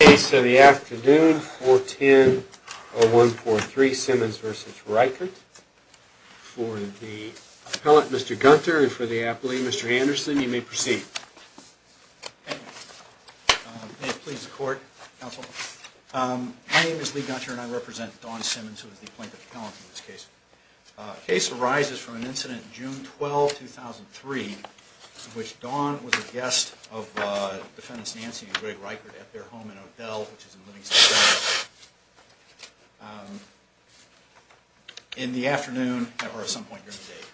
The case of the afternoon, 410-0143, Simmons v. Reichardt, for the appellant, Mr. Gunter, and for the appellee, Mr. Anderson, you may proceed. May it please the court, counsel. My name is Lee Gunter, and I represent Dawn Simmons, who is the plaintiff's appellant in this case. The case arises from an incident in June 12, 2003, in which Dawn was a guest of Defendants Nancy and Greg Reichardt at their home in Odell, which is in Livingston County. In the afternoon, or at some point during the day,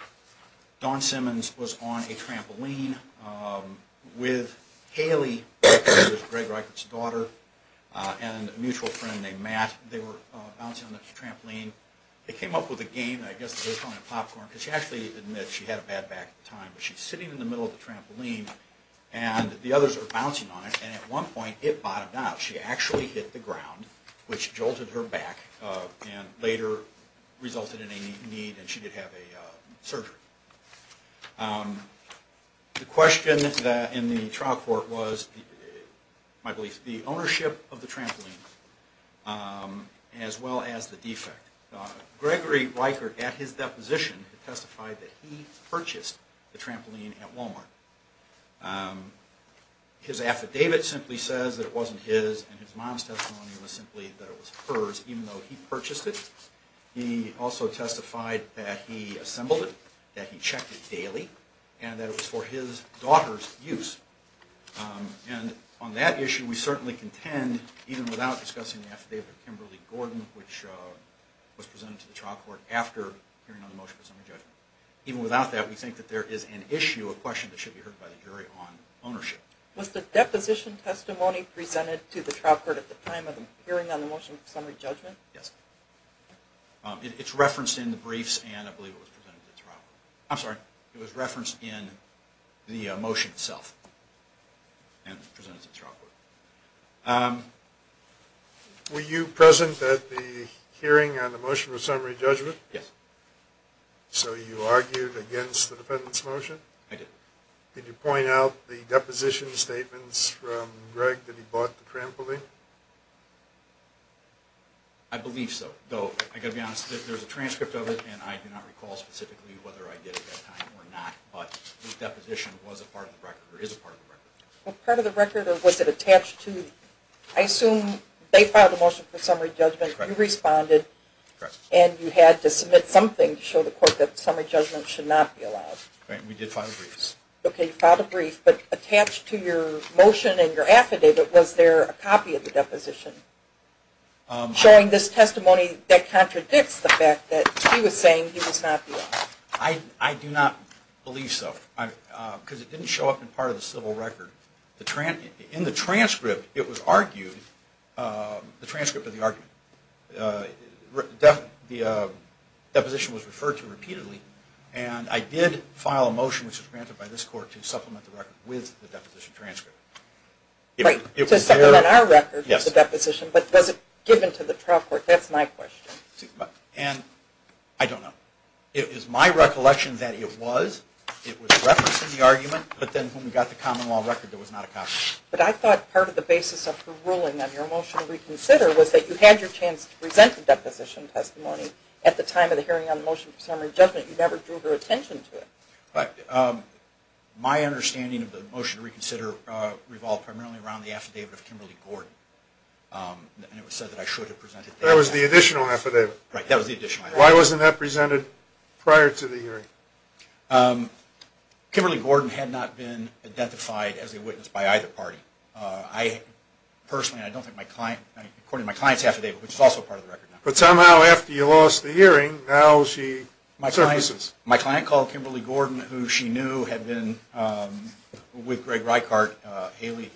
Dawn Simmons was on a trampoline with Haley, Greg Reichardt's daughter, and a mutual friend named Matt. They were bouncing on the trampoline. They came up with a game, I guess they were calling it popcorn, because she actually admits she had a bad back at the time. But she's sitting in the middle of the trampoline, and the others are bouncing on it, and at one point, it bottomed out. She actually hit the ground, which jolted her back, and later resulted in a knee, and she did have a surgery. The question in the trial court was, in my belief, the ownership of the trampoline, as well as the defect. Gregory Reichardt, at his deposition, testified that he purchased the trampoline at Walmart. His affidavit simply says that it wasn't his, and his mom's testimony was simply that it was hers, even though he purchased it. He also testified that he assembled it, that he checked it daily, and that it was for his daughter's use. And on that issue, we certainly contend, even without discussing the affidavit of Kimberly Gordon, which was presented to the trial court after hearing on the motion for summary judgment, even without that, we think that there is an issue, a question that should be heard by the jury on ownership. Was the deposition testimony presented to the trial court at the time of the hearing on the motion for summary judgment? Yes. It's referenced in the briefs, and I believe it was presented to the trial court. I'm sorry. It was referenced in the motion itself, and it was presented to the trial court. Were you present at the hearing on the motion for summary judgment? Yes. So you argued against the defendant's motion? I did. Did you point out the deposition statements from Greg that he bought the trampoline? I believe so. Though, I've got to be honest, there's a transcript of it, and I do not recall specifically whether I did at that time or not, but the deposition was a part of the record, or is a part of the record. Well, part of the record, or was it attached to, I assume they filed a motion for summary judgment. Correct. You responded. Correct. And you had to submit something to show the court that summary judgment should not be allowed. Correct. We did file briefs. Okay, you filed a brief, but attached to your motion and your affidavit, was there a copy of the deposition showing this testimony that contradicts the fact that he was saying he was not the owner? I do not believe so, because it didn't show up in part of the civil record. In the transcript, it was argued, the transcript of the argument, the deposition was referred to repeatedly, and I did file a motion, which was granted by this court, to supplement the record with the deposition transcript. Right, to supplement our record with the deposition, but was it given to the trial court? That's my question. And, I don't know. It is my recollection that it was, it was referenced in the argument, but then when we got the common law record, there was not a copy. But I thought part of the basis of the ruling on your motion to reconsider was that you had your chance to present the deposition testimony at the time of the hearing on the motion for summary judgment. You never drew their attention to it. My understanding of the motion to reconsider revolved primarily around the affidavit of Kimberly Gordon. And it was said that I should have presented that. That was the additional affidavit. Right, that was the additional affidavit. Why wasn't that presented prior to the hearing? Kimberly Gordon had not been identified as a witness by either party. I personally, and I don't think my client, according to my client's affidavit, which is also part of the record now. But somehow after you lost the hearing, now she surfaces. My client called Kimberly Gordon, who she knew had been with Greg Reichardt, Haley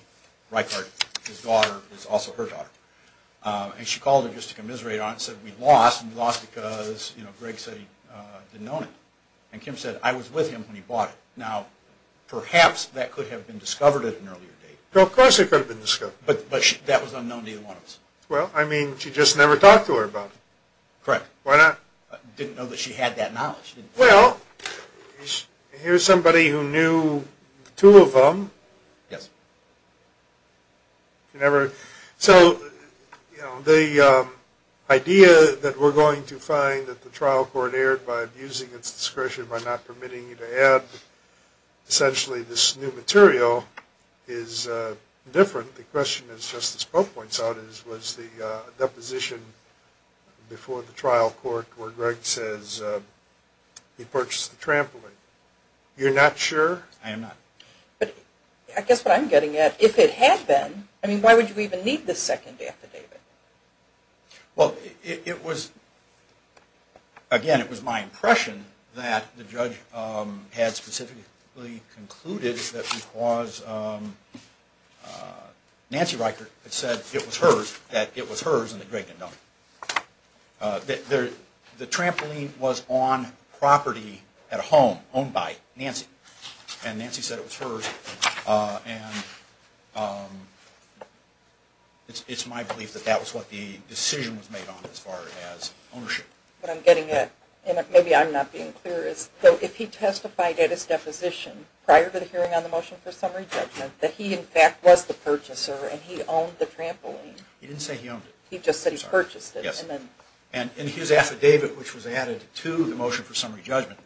Reichardt, his daughter, who is also her daughter, and she called him just to commiserate on it and said, we lost and we lost because Greg said he didn't know him. And Kim said, I was with him when he bought it. Now, perhaps that could have been discovered at an earlier date. Of course it could have been discovered. But that was unknown to either one of us. Well, I mean, she just never talked to her about it. Correct. Why not? Didn't know that she had that knowledge. Well, here's somebody who knew the two of them. Yes. So the idea that we're going to find that the trial court erred by abusing its discretion, by not permitting you to add essentially this new material is different. The question, as Justice Pope points out, was the deposition before the trial court where Greg says he purchased the trampoline. You're not sure? I am not. But I guess what I'm getting at, if it had been, I mean, why would you even need this second affidavit? Well, it was, again, it was my impression that the judge had specifically concluded that because Nancy Reichert had said it was hers, that it was hers and that Greg didn't know. The trampoline was on property at a home owned by Nancy. And Nancy said it was hers. And it's my belief that that was what the decision was made on as far as ownership. What I'm getting at, and maybe I'm not being clear, is if he testified at his deposition prior to the hearing on the motion for summary judgment that he, in fact, was the purchaser and he owned the trampoline. He didn't say he owned it. He just said he purchased it. Yes. And his affidavit, which was added to the motion for summary judgment,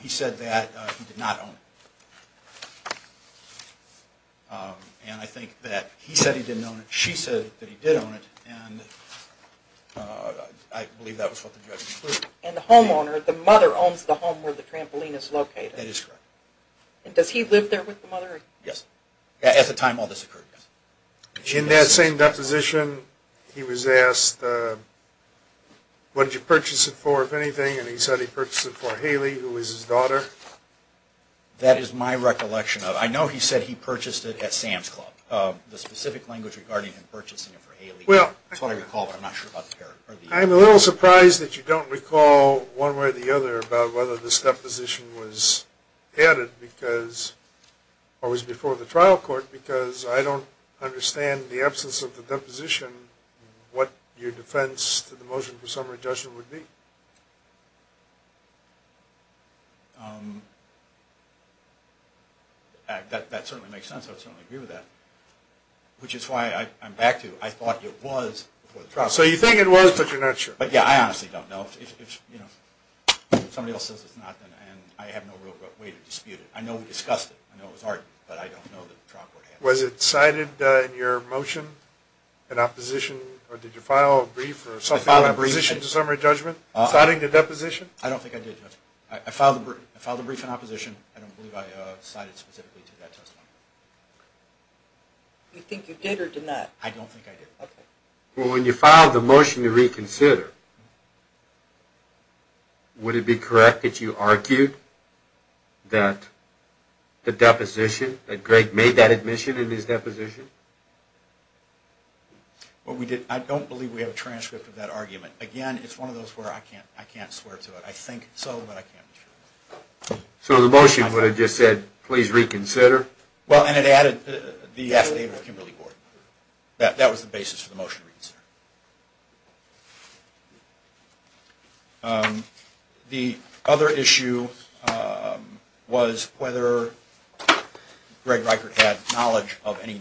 he said that he did not own it. And I think that he said he didn't own it. She said that he did own it. And I believe that was what the judgment concluded. And the homeowner, the mother, owns the home where the trampoline is located. That is correct. And does he live there with the mother? Yes. At the time all this occurred, yes. In that same deposition, he was asked, what did you purchase it for, if anything? And he said he purchased it for Haley, who was his daughter. That is my recollection of it. I know he said he purchased it at Sam's Club. The specific language regarding him purchasing it for Haley is what I recall, but I'm not sure about the parent. I'm a little surprised that you don't recall one way or the other about whether this deposition was added or was before the trial court, because I don't understand, in the absence of the deposition, what your defense to the motion for summary judgment would be. That certainly makes sense. I would certainly agree with that. Which is why I'm back to, I thought it was before the trial court. So you think it was, but you're not sure. Yeah, I honestly don't know. If somebody else says it's not, then I have no real way to dispute it. I know we discussed it. I know it was argued, but I don't know that the trial court had it. Was it cited in your motion in opposition, or did you file a brief or something like that? I filed a brief. In opposition to summary judgment, citing the deposition? I don't think I did, Judge. I filed a brief in opposition. I don't believe I cited specifically to that testimony. You think you did or did not? I don't think I did. Okay. Well, when you filed the motion to reconsider, would it be correct that you argued that the deposition, that Greg made that admission in his deposition? I don't believe we have a transcript of that argument. Again, it's one of those where I can't swear to it. I think so, but I can't be sure. So the motion would have just said, please reconsider? Well, and it added the affidavit of Kimberly-Gordon. That was the basis for the motion to reconsider. The other issue was whether Greg Reichert had knowledge of any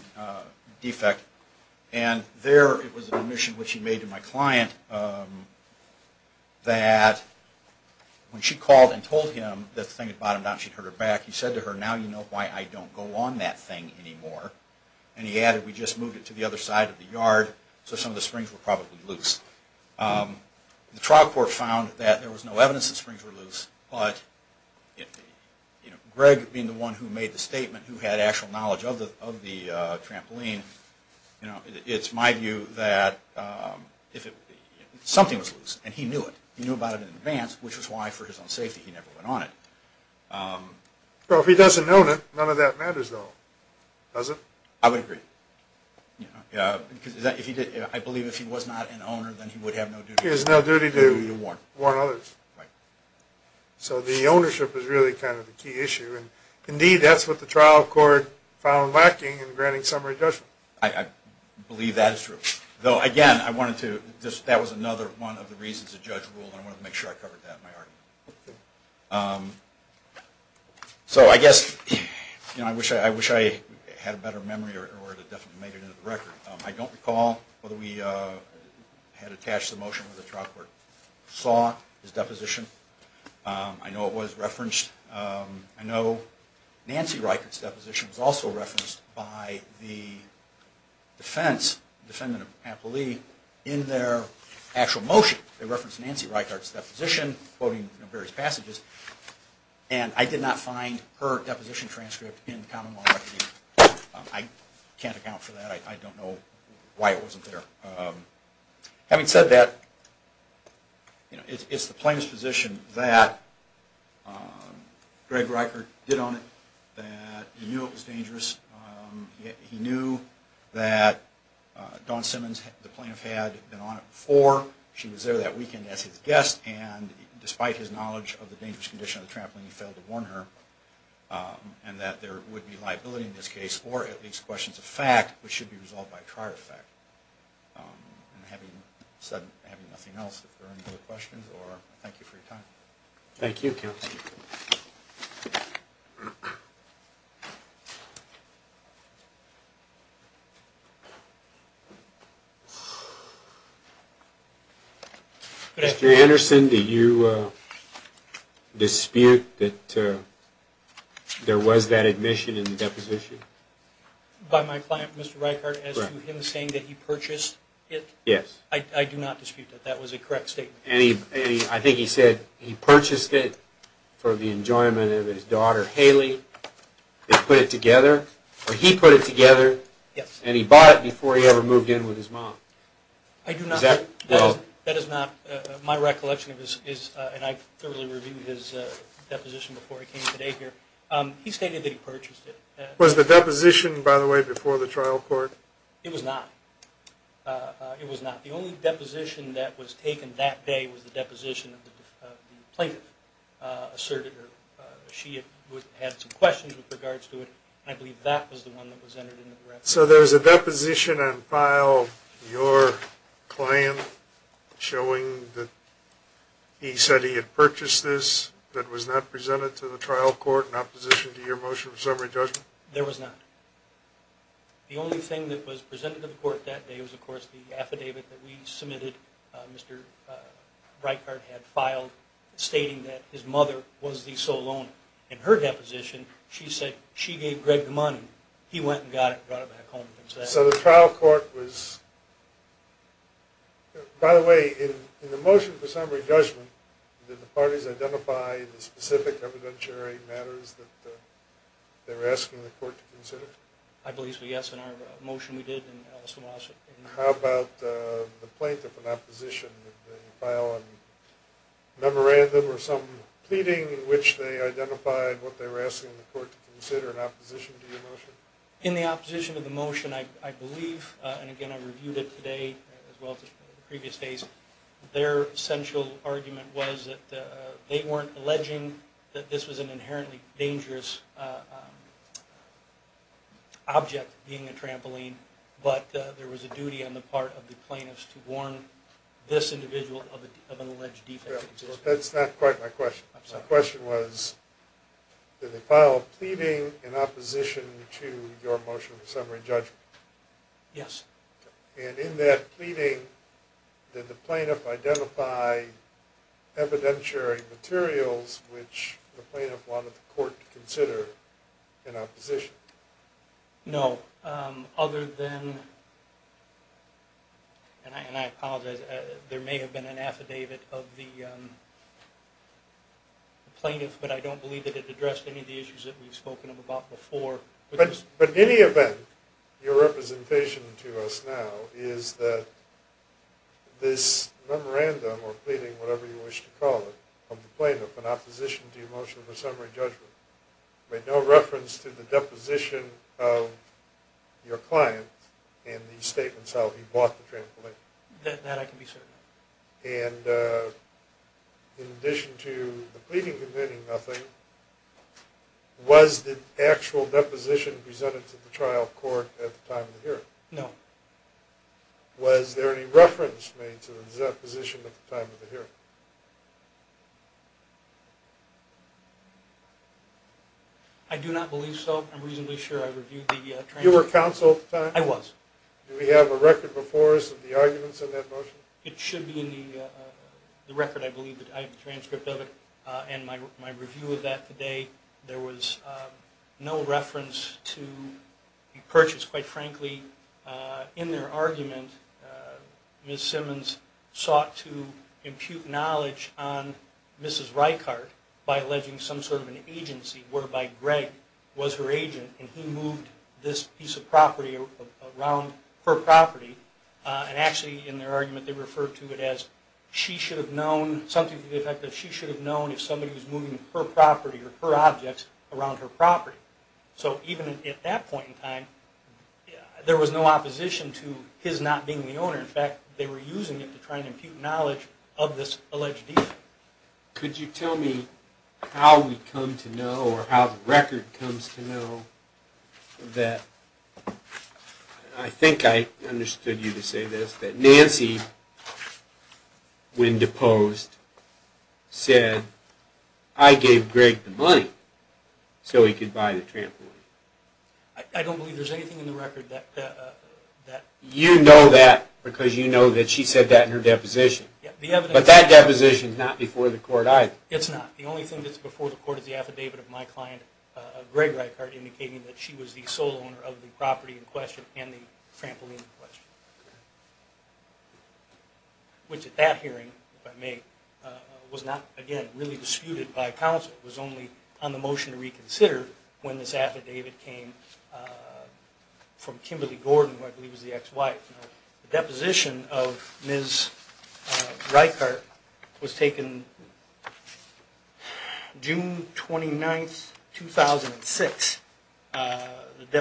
defect, and there it was an admission which he made to my client that when she called and told him that the thing had bottomed out and she'd hurt her back, he said to her, now you know why I don't go on that thing anymore. And he added, we just moved it to the other side of the yard, so some of the springs were probably loose. The trial court found that there was no evidence that springs were loose, but Greg being the one who made the statement, who had actual knowledge of the trampoline, it's my view that something was loose, and he knew it. Which is why, for his own safety, he never went on it. Well, if he doesn't own it, none of that matters, though, does it? I would agree. I believe if he was not an owner, then he would have no duty to warn others. So the ownership is really kind of the key issue, and indeed that's what the trial court found lacking in granting summary judgment. I believe that is true. Though, again, that was another one of the reasons the judge ruled and I wanted to make sure I covered that in my argument. So, I guess, I wish I had a better memory or would have definitely made it into the record. I don't recall whether we had attached the motion to the trial court. Saw his deposition. I know it was referenced. I know Nancy Reichert's deposition was also referenced by the defense, the defendant, Appoli, in their actual motion. They referenced Nancy Reichert's deposition, quoting various passages, and I did not find her deposition transcript in the common law record. I can't account for that. I don't know why it wasn't there. Having said that, it's the plaintiff's position that Greg Reichert did own it, that he knew it was dangerous. He knew that Dawn Simmons, the plaintiff, had been on it before. She was there that weekend as his guest, and despite his knowledge of the dangerous condition of the trampoline, he failed to warn her, and that there would be liability in this case, or at least questions of fact, which should be resolved by a trial effect. And having said nothing else, if there are any other questions, I thank you for your time. Thank you. Thank you. Mr. Anderson, do you dispute that there was that admission in the deposition? By my client, Mr. Reichert, as to him saying that he purchased it? Yes. I do not dispute that. That was a correct statement. I think he said he purchased it for the enjoyment of his daughter, Haley. They put it together, or he put it together, and he bought it before he ever moved in with his mom. I do not. That is not my recollection of his, and I thoroughly reviewed his deposition before I came today here. He stated that he purchased it. Was the deposition, by the way, before the trial court? It was not. It was not. The only deposition that was taken that day was the deposition of the plaintiff, She had some questions with regards to it, and I believe that was the one that was entered into the record. So there was a deposition on file, your client, showing that he said he had purchased this, that was not presented to the trial court in opposition to your motion of summary judgment? There was not. The only thing that was presented to the court that day was, of course, the affidavit that we submitted, Mr. Reichert had filed, stating that his mother was the sole owner. In her deposition, she said she gave Greg the money. He went and got it and brought it back home. So the trial court was... By the way, in the motion for summary judgment, did the parties identify the specific evidentiary matters that they were asking the court to consider? I believe so, yes, in our motion we did. How about the plaintiff in opposition? Did they file a memorandum or some pleading in which they identified what they were asking the court to consider in opposition to your motion? In the opposition to the motion, I believe, and again I reviewed it today as well as the previous days, their central argument was that they weren't alleging that this was an inherently dangerous object, being a trampoline, but there was a duty on the part of the plaintiffs to warn this individual of an alleged defect. That's not quite my question. My question was, did they file a pleading in opposition to your motion for summary judgment? Yes. And in that pleading, did the plaintiff identify evidentiary materials which the plaintiff wanted the court to consider in opposition? No, other than, and I apologize, there may have been an affidavit of the plaintiff, but I don't believe that it addressed any of the issues that we've spoken about before. But in any event, your representation to us now is that this memorandum or pleading, whatever you wish to call it, of the plaintiff in opposition to your motion for summary judgment made no reference to the deposition of your client in the statements how he bought the trampoline. That I can be certain of. And in addition to the pleading convicting nothing, was the actual deposition presented to the trial court at the time of the hearing? No. Was there any reference made to the deposition at the time of the hearing? I do not believe so. I'm reasonably sure I reviewed the transcript. You were counsel at the time? I was. Do we have a record before us of the arguments in that motion? It should be in the record, I believe. I have a transcript of it and my review of that today. There was no reference to the purchase. Quite frankly, in their argument, Ms. Simmons sought to impute knowledge on Mrs. Reichardt by alleging some sort of an agency whereby Greg was her agent and he moved this piece of property around her property. And actually, in their argument, they referred to it as something to the effect that she should have known if somebody was moving her property or her objects around her property. So even at that point in time, there was no opposition to his not being the owner. In fact, they were using it to try and impute knowledge of this alleged thief. Could you tell me how we come to know, or how the record comes to know, that I think I understood you to say this, that Nancy, when deposed, said, I gave Greg the money so he could buy the trampoline. I don't believe there's anything in the record that... You know that because you know that she said that in her deposition. But that deposition is not before the court either. It's not. The only thing that's before the court is the affidavit of my client, Greg Reichardt, indicating that she was the sole owner of the property in question and the trampoline in question. Which at that hearing, if I may, was not, again, really disputed by counsel. It was only on the motion to reconsider when this affidavit came from Kimberly Gordon, who I believe was the ex-wife. The deposition of Ms. Reichardt was taken June 29, 2006. The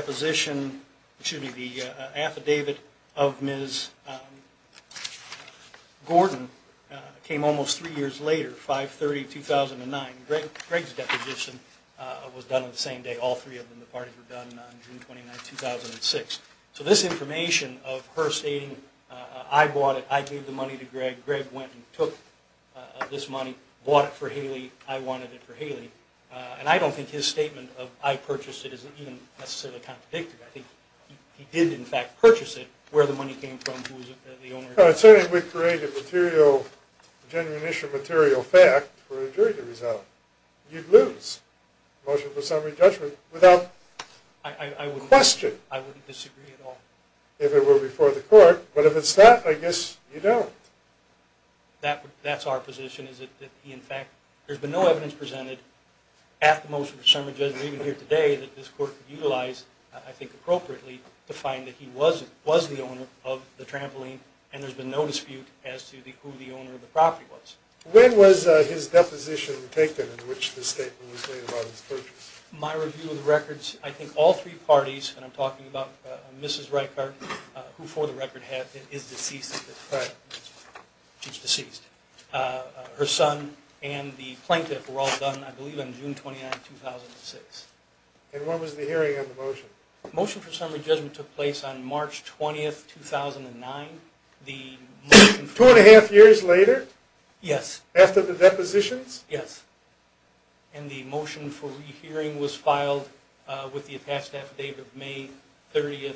affidavit of Ms. Gordon came almost three years later, 5-30-2009. Greg's deposition was done on the same day all three of them, the parties were done on June 29, 2006. So this information of her stating, I bought it, I gave the money to Greg, Greg went and took this money, bought it for Haley, I wanted it for Haley. And I don't think his statement of I purchased it is even necessarily contradicted. I think he did in fact purchase it where the money came from, who was the owner. Certainly if we create a genuine issue of material fact for a jury to resolve, you'd lose the motion for summary judgment without question. I wouldn't disagree at all. If it were before the court, but if it's not, I guess you don't. That's our position, is that in fact there's been no evidence presented at the motion for summary judgment even here today that this court could utilize, I think appropriately, to find that he was the owner of the trampoline and there's been no dispute as to who the owner of the property was. When was his deposition taken in which the statement was made about his purchase? My review of the records, I think all three parties, and I'm talking about Mrs. Reichard, who for the record is deceased, her son and the plaintiff were all done, I believe on June 29, 2006. And when was the hearing on the motion? The motion for summary judgment took place on March 20, 2009. Two and a half years later? Yes. After the depositions? Yes. And the motion for rehearing was filed with the attached affidavit of May 30,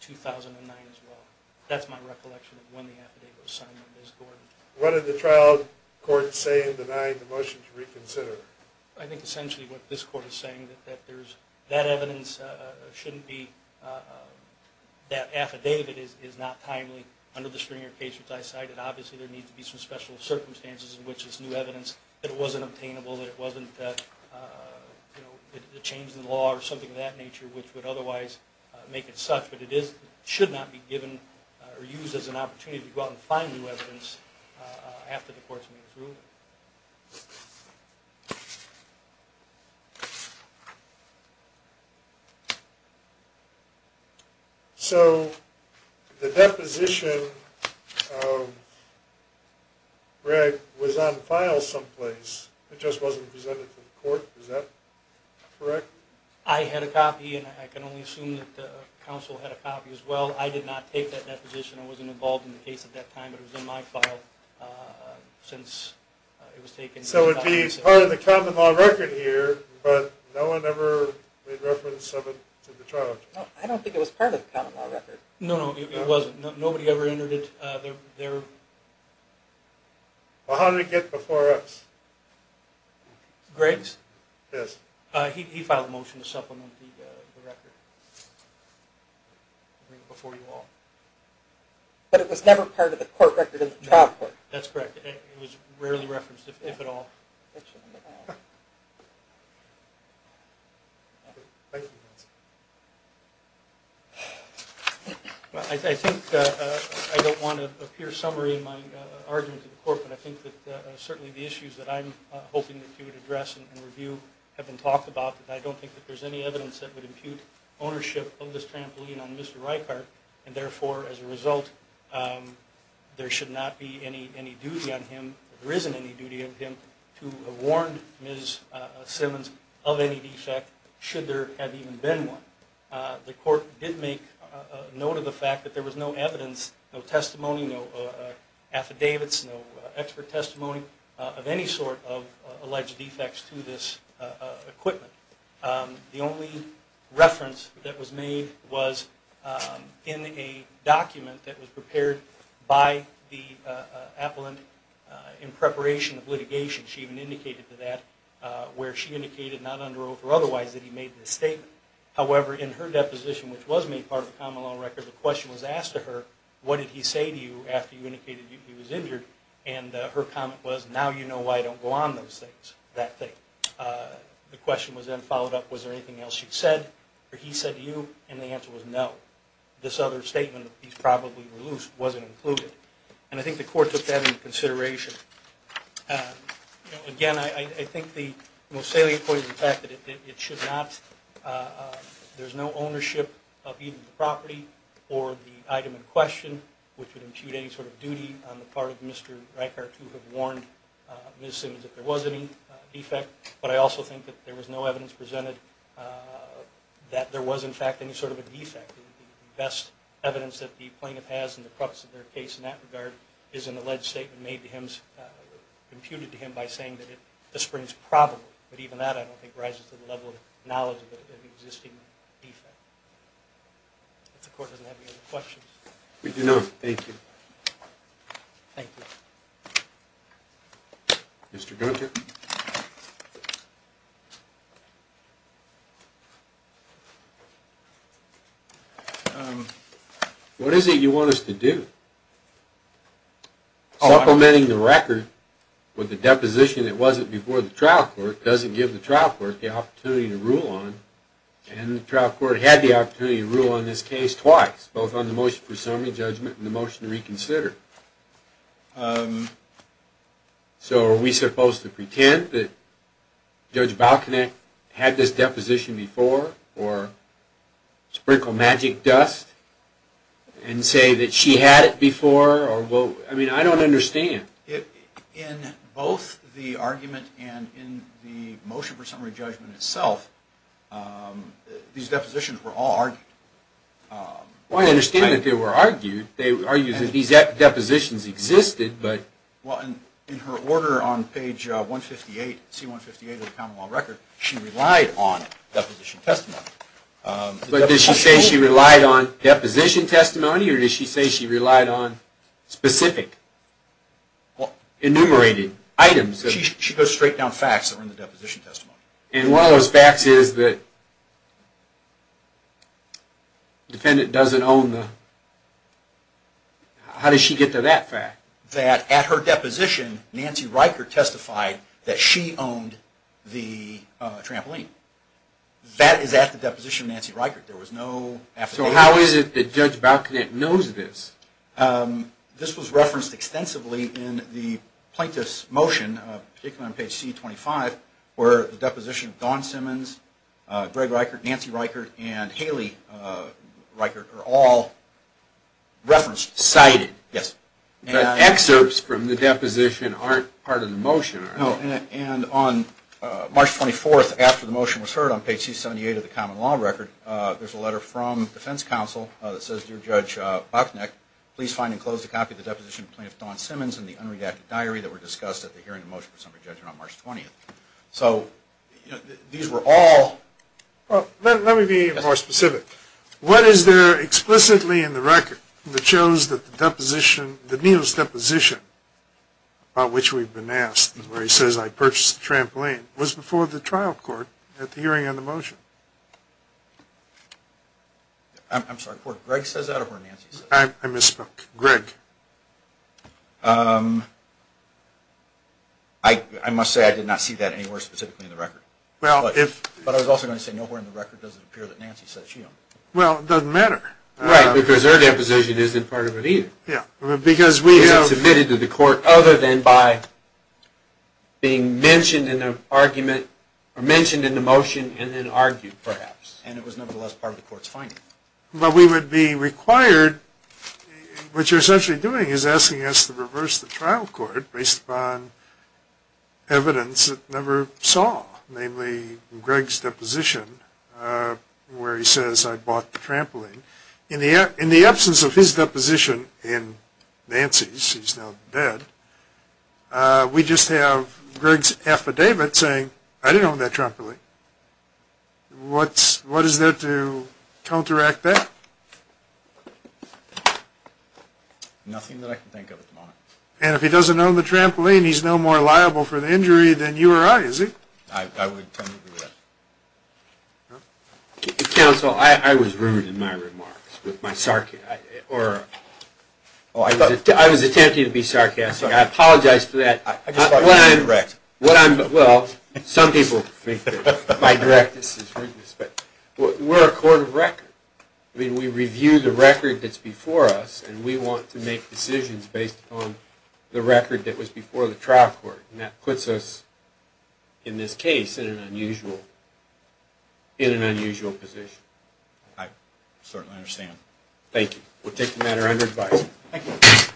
2009 as well. That's my recollection of when the affidavit was signed by Ms. Gordon. What did the trial court say in denying the motion to reconsider? I think essentially what this court is saying, that that evidence shouldn't be, that affidavit is not timely. Under the Stringer case, which I cited, obviously there needs to be some special circumstances in which this new evidence, that it wasn't obtainable, that it wasn't the change in the law or something of that nature, which would otherwise make it such. But it should not be given or used as an opportunity to go out and find new evidence after the court's made its ruling. So the deposition, Greg, was on file someplace. It just wasn't presented to the court. Is that correct? I had a copy, and I can only assume that the counsel had a copy as well. I did not take that deposition. I wasn't involved in the case at that time. But it was in my file since it was taken. So it would be part of the common law record here, but no one ever made reference to the trial? I don't think it was part of the common law record. No, no, it wasn't. Nobody ever entered it. Well, how did it get before us? Greg's? Yes. He filed a motion to supplement the record before you all. But it was never part of the court record in the trial court? That's correct. It was rarely referenced, if at all. I think I don't want to appear summary in my argument to the court, but I think that certainly the issues that I'm hoping that you would address and review have been talked about, but I don't think that there's any evidence that would impute ownership of this trampoline and, therefore, as a result, there should not be any duty on him or there isn't any duty on him to have warned Ms. Simmons of any defect, should there have even been one. The court did make note of the fact that there was no evidence, no testimony, no affidavits, no expert testimony of any sort of alleged defects to this equipment. The only reference that was made was in a document that was prepared by the appellant in preparation of litigation. She even indicated to that where she indicated, not under oath or otherwise, that he made this statement. However, in her deposition, which was made part of the common law record, the question was asked to her, what did he say to you after you indicated he was injured? And her comment was, now you know why I don't go on those things, that thing. The question was then followed up, was there anything else you said, or he said to you, and the answer was no. This other statement, he's probably reluced, wasn't included. And I think the court took that into consideration. Again, I think the Moseley Accord is the fact that it should not, there's no ownership of either the property or the item in question, which would impute any sort of duty on the part of Mr. Reichert to have warned Ms. Simmons that there was any defect. But I also think that there was no evidence presented that there was, in fact, any sort of a defect. The best evidence that the plaintiff has in the preface of their case in that regard is an alleged statement made to him, imputed to him by saying that the spring is probable. But even that, I don't think, rises to the level of knowledge of an existing defect. If the court doesn't have any other questions. We do not. Thank you. Thank you. Mr. Gunter. What is it you want us to do? Supplementing the record with the deposition that wasn't before the trial court doesn't give the trial court the opportunity to rule on it. And the trial court had the opportunity to rule on this case twice, both on the motion for summary judgment and the motion to reconsider. So are we supposed to pretend that Judge Balkanek had this deposition before or sprinkle magic dust and say that she had it before? I mean, I don't understand. In both the argument and in the motion for summary judgment itself, these depositions were all argued. Well, I understand that they were argued. They argued that these depositions existed, but... Well, in her order on page 158, C-158 of the Commonwealth Record, she relied on deposition testimony. But did she say she relied on deposition testimony or did she say she relied on specific enumerated items? She goes straight down facts that were in the deposition testimony. And one of those facts is that the defendant doesn't own the... How did she get to that fact? That at her deposition, Nancy Reichert testified that she owned the trampoline. That is at the deposition of Nancy Reichert. There was no affidavit. So how is it that Judge Balkanek knows this? This was referenced extensively in the plaintiff's motion, particularly on page C-25, where the deposition of Dawn Simmons, Greg Reichert, Nancy Reichert, and Haley Reichert are all referenced. Cited. Yes. But excerpts from the deposition aren't part of the motion, are they? No. And on March 24th, after the motion was heard on page C-78 of the Common Law Record, there's a letter from defense counsel that says, Dear Judge Balkanek, please find enclosed a copy of the deposition of Plaintiff Dawn Simmons in the unredacted diary that were discussed at the hearing of the motion for summary judgment on March 20th. So these were all... Well, let me be more specific. What is there explicitly in the record that shows that the deposition, the needle's deposition, about which we've been asked, where he says, I purchased the trampoline, was before the trial court at the hearing on the motion? I'm sorry, court. Greg says that or Nancy says that? I misspoke. Greg. I must say I did not see that anywhere specifically in the record. But I was also going to say, nowhere in the record does it appear that Nancy said she owned it. Well, it doesn't matter. Right, because her deposition isn't part of it either. Because it's submitted to the court other than by being mentioned in the argument or mentioned in the motion and then argued, perhaps. And it was, nevertheless, part of the court's finding. But we would be required... What you're essentially doing is asking us to reverse the trial court based upon evidence it never saw. Namely, Greg's deposition where he says, I bought the trampoline. In the absence of his deposition in Nancy's, she's now dead, we just have Greg's affidavit saying, I didn't own that trampoline. What is there to counteract that? Nothing that I can think of at the moment. And if he doesn't own the trampoline, he's no more liable for the injury than you or I, is he? I would come to that. Counsel, I was rude in my remarks with my sarcastic... Oh, I was attempting to be sarcastic. I apologize for that. Well, some people think that my directness is rudeness. We're a court of record. I mean, we review the record that's before us, and we want to make decisions based upon the record that was before the trial court. And that puts us, in this case, in an unusual position. I certainly understand. Thank you. We'll take the matter under advice.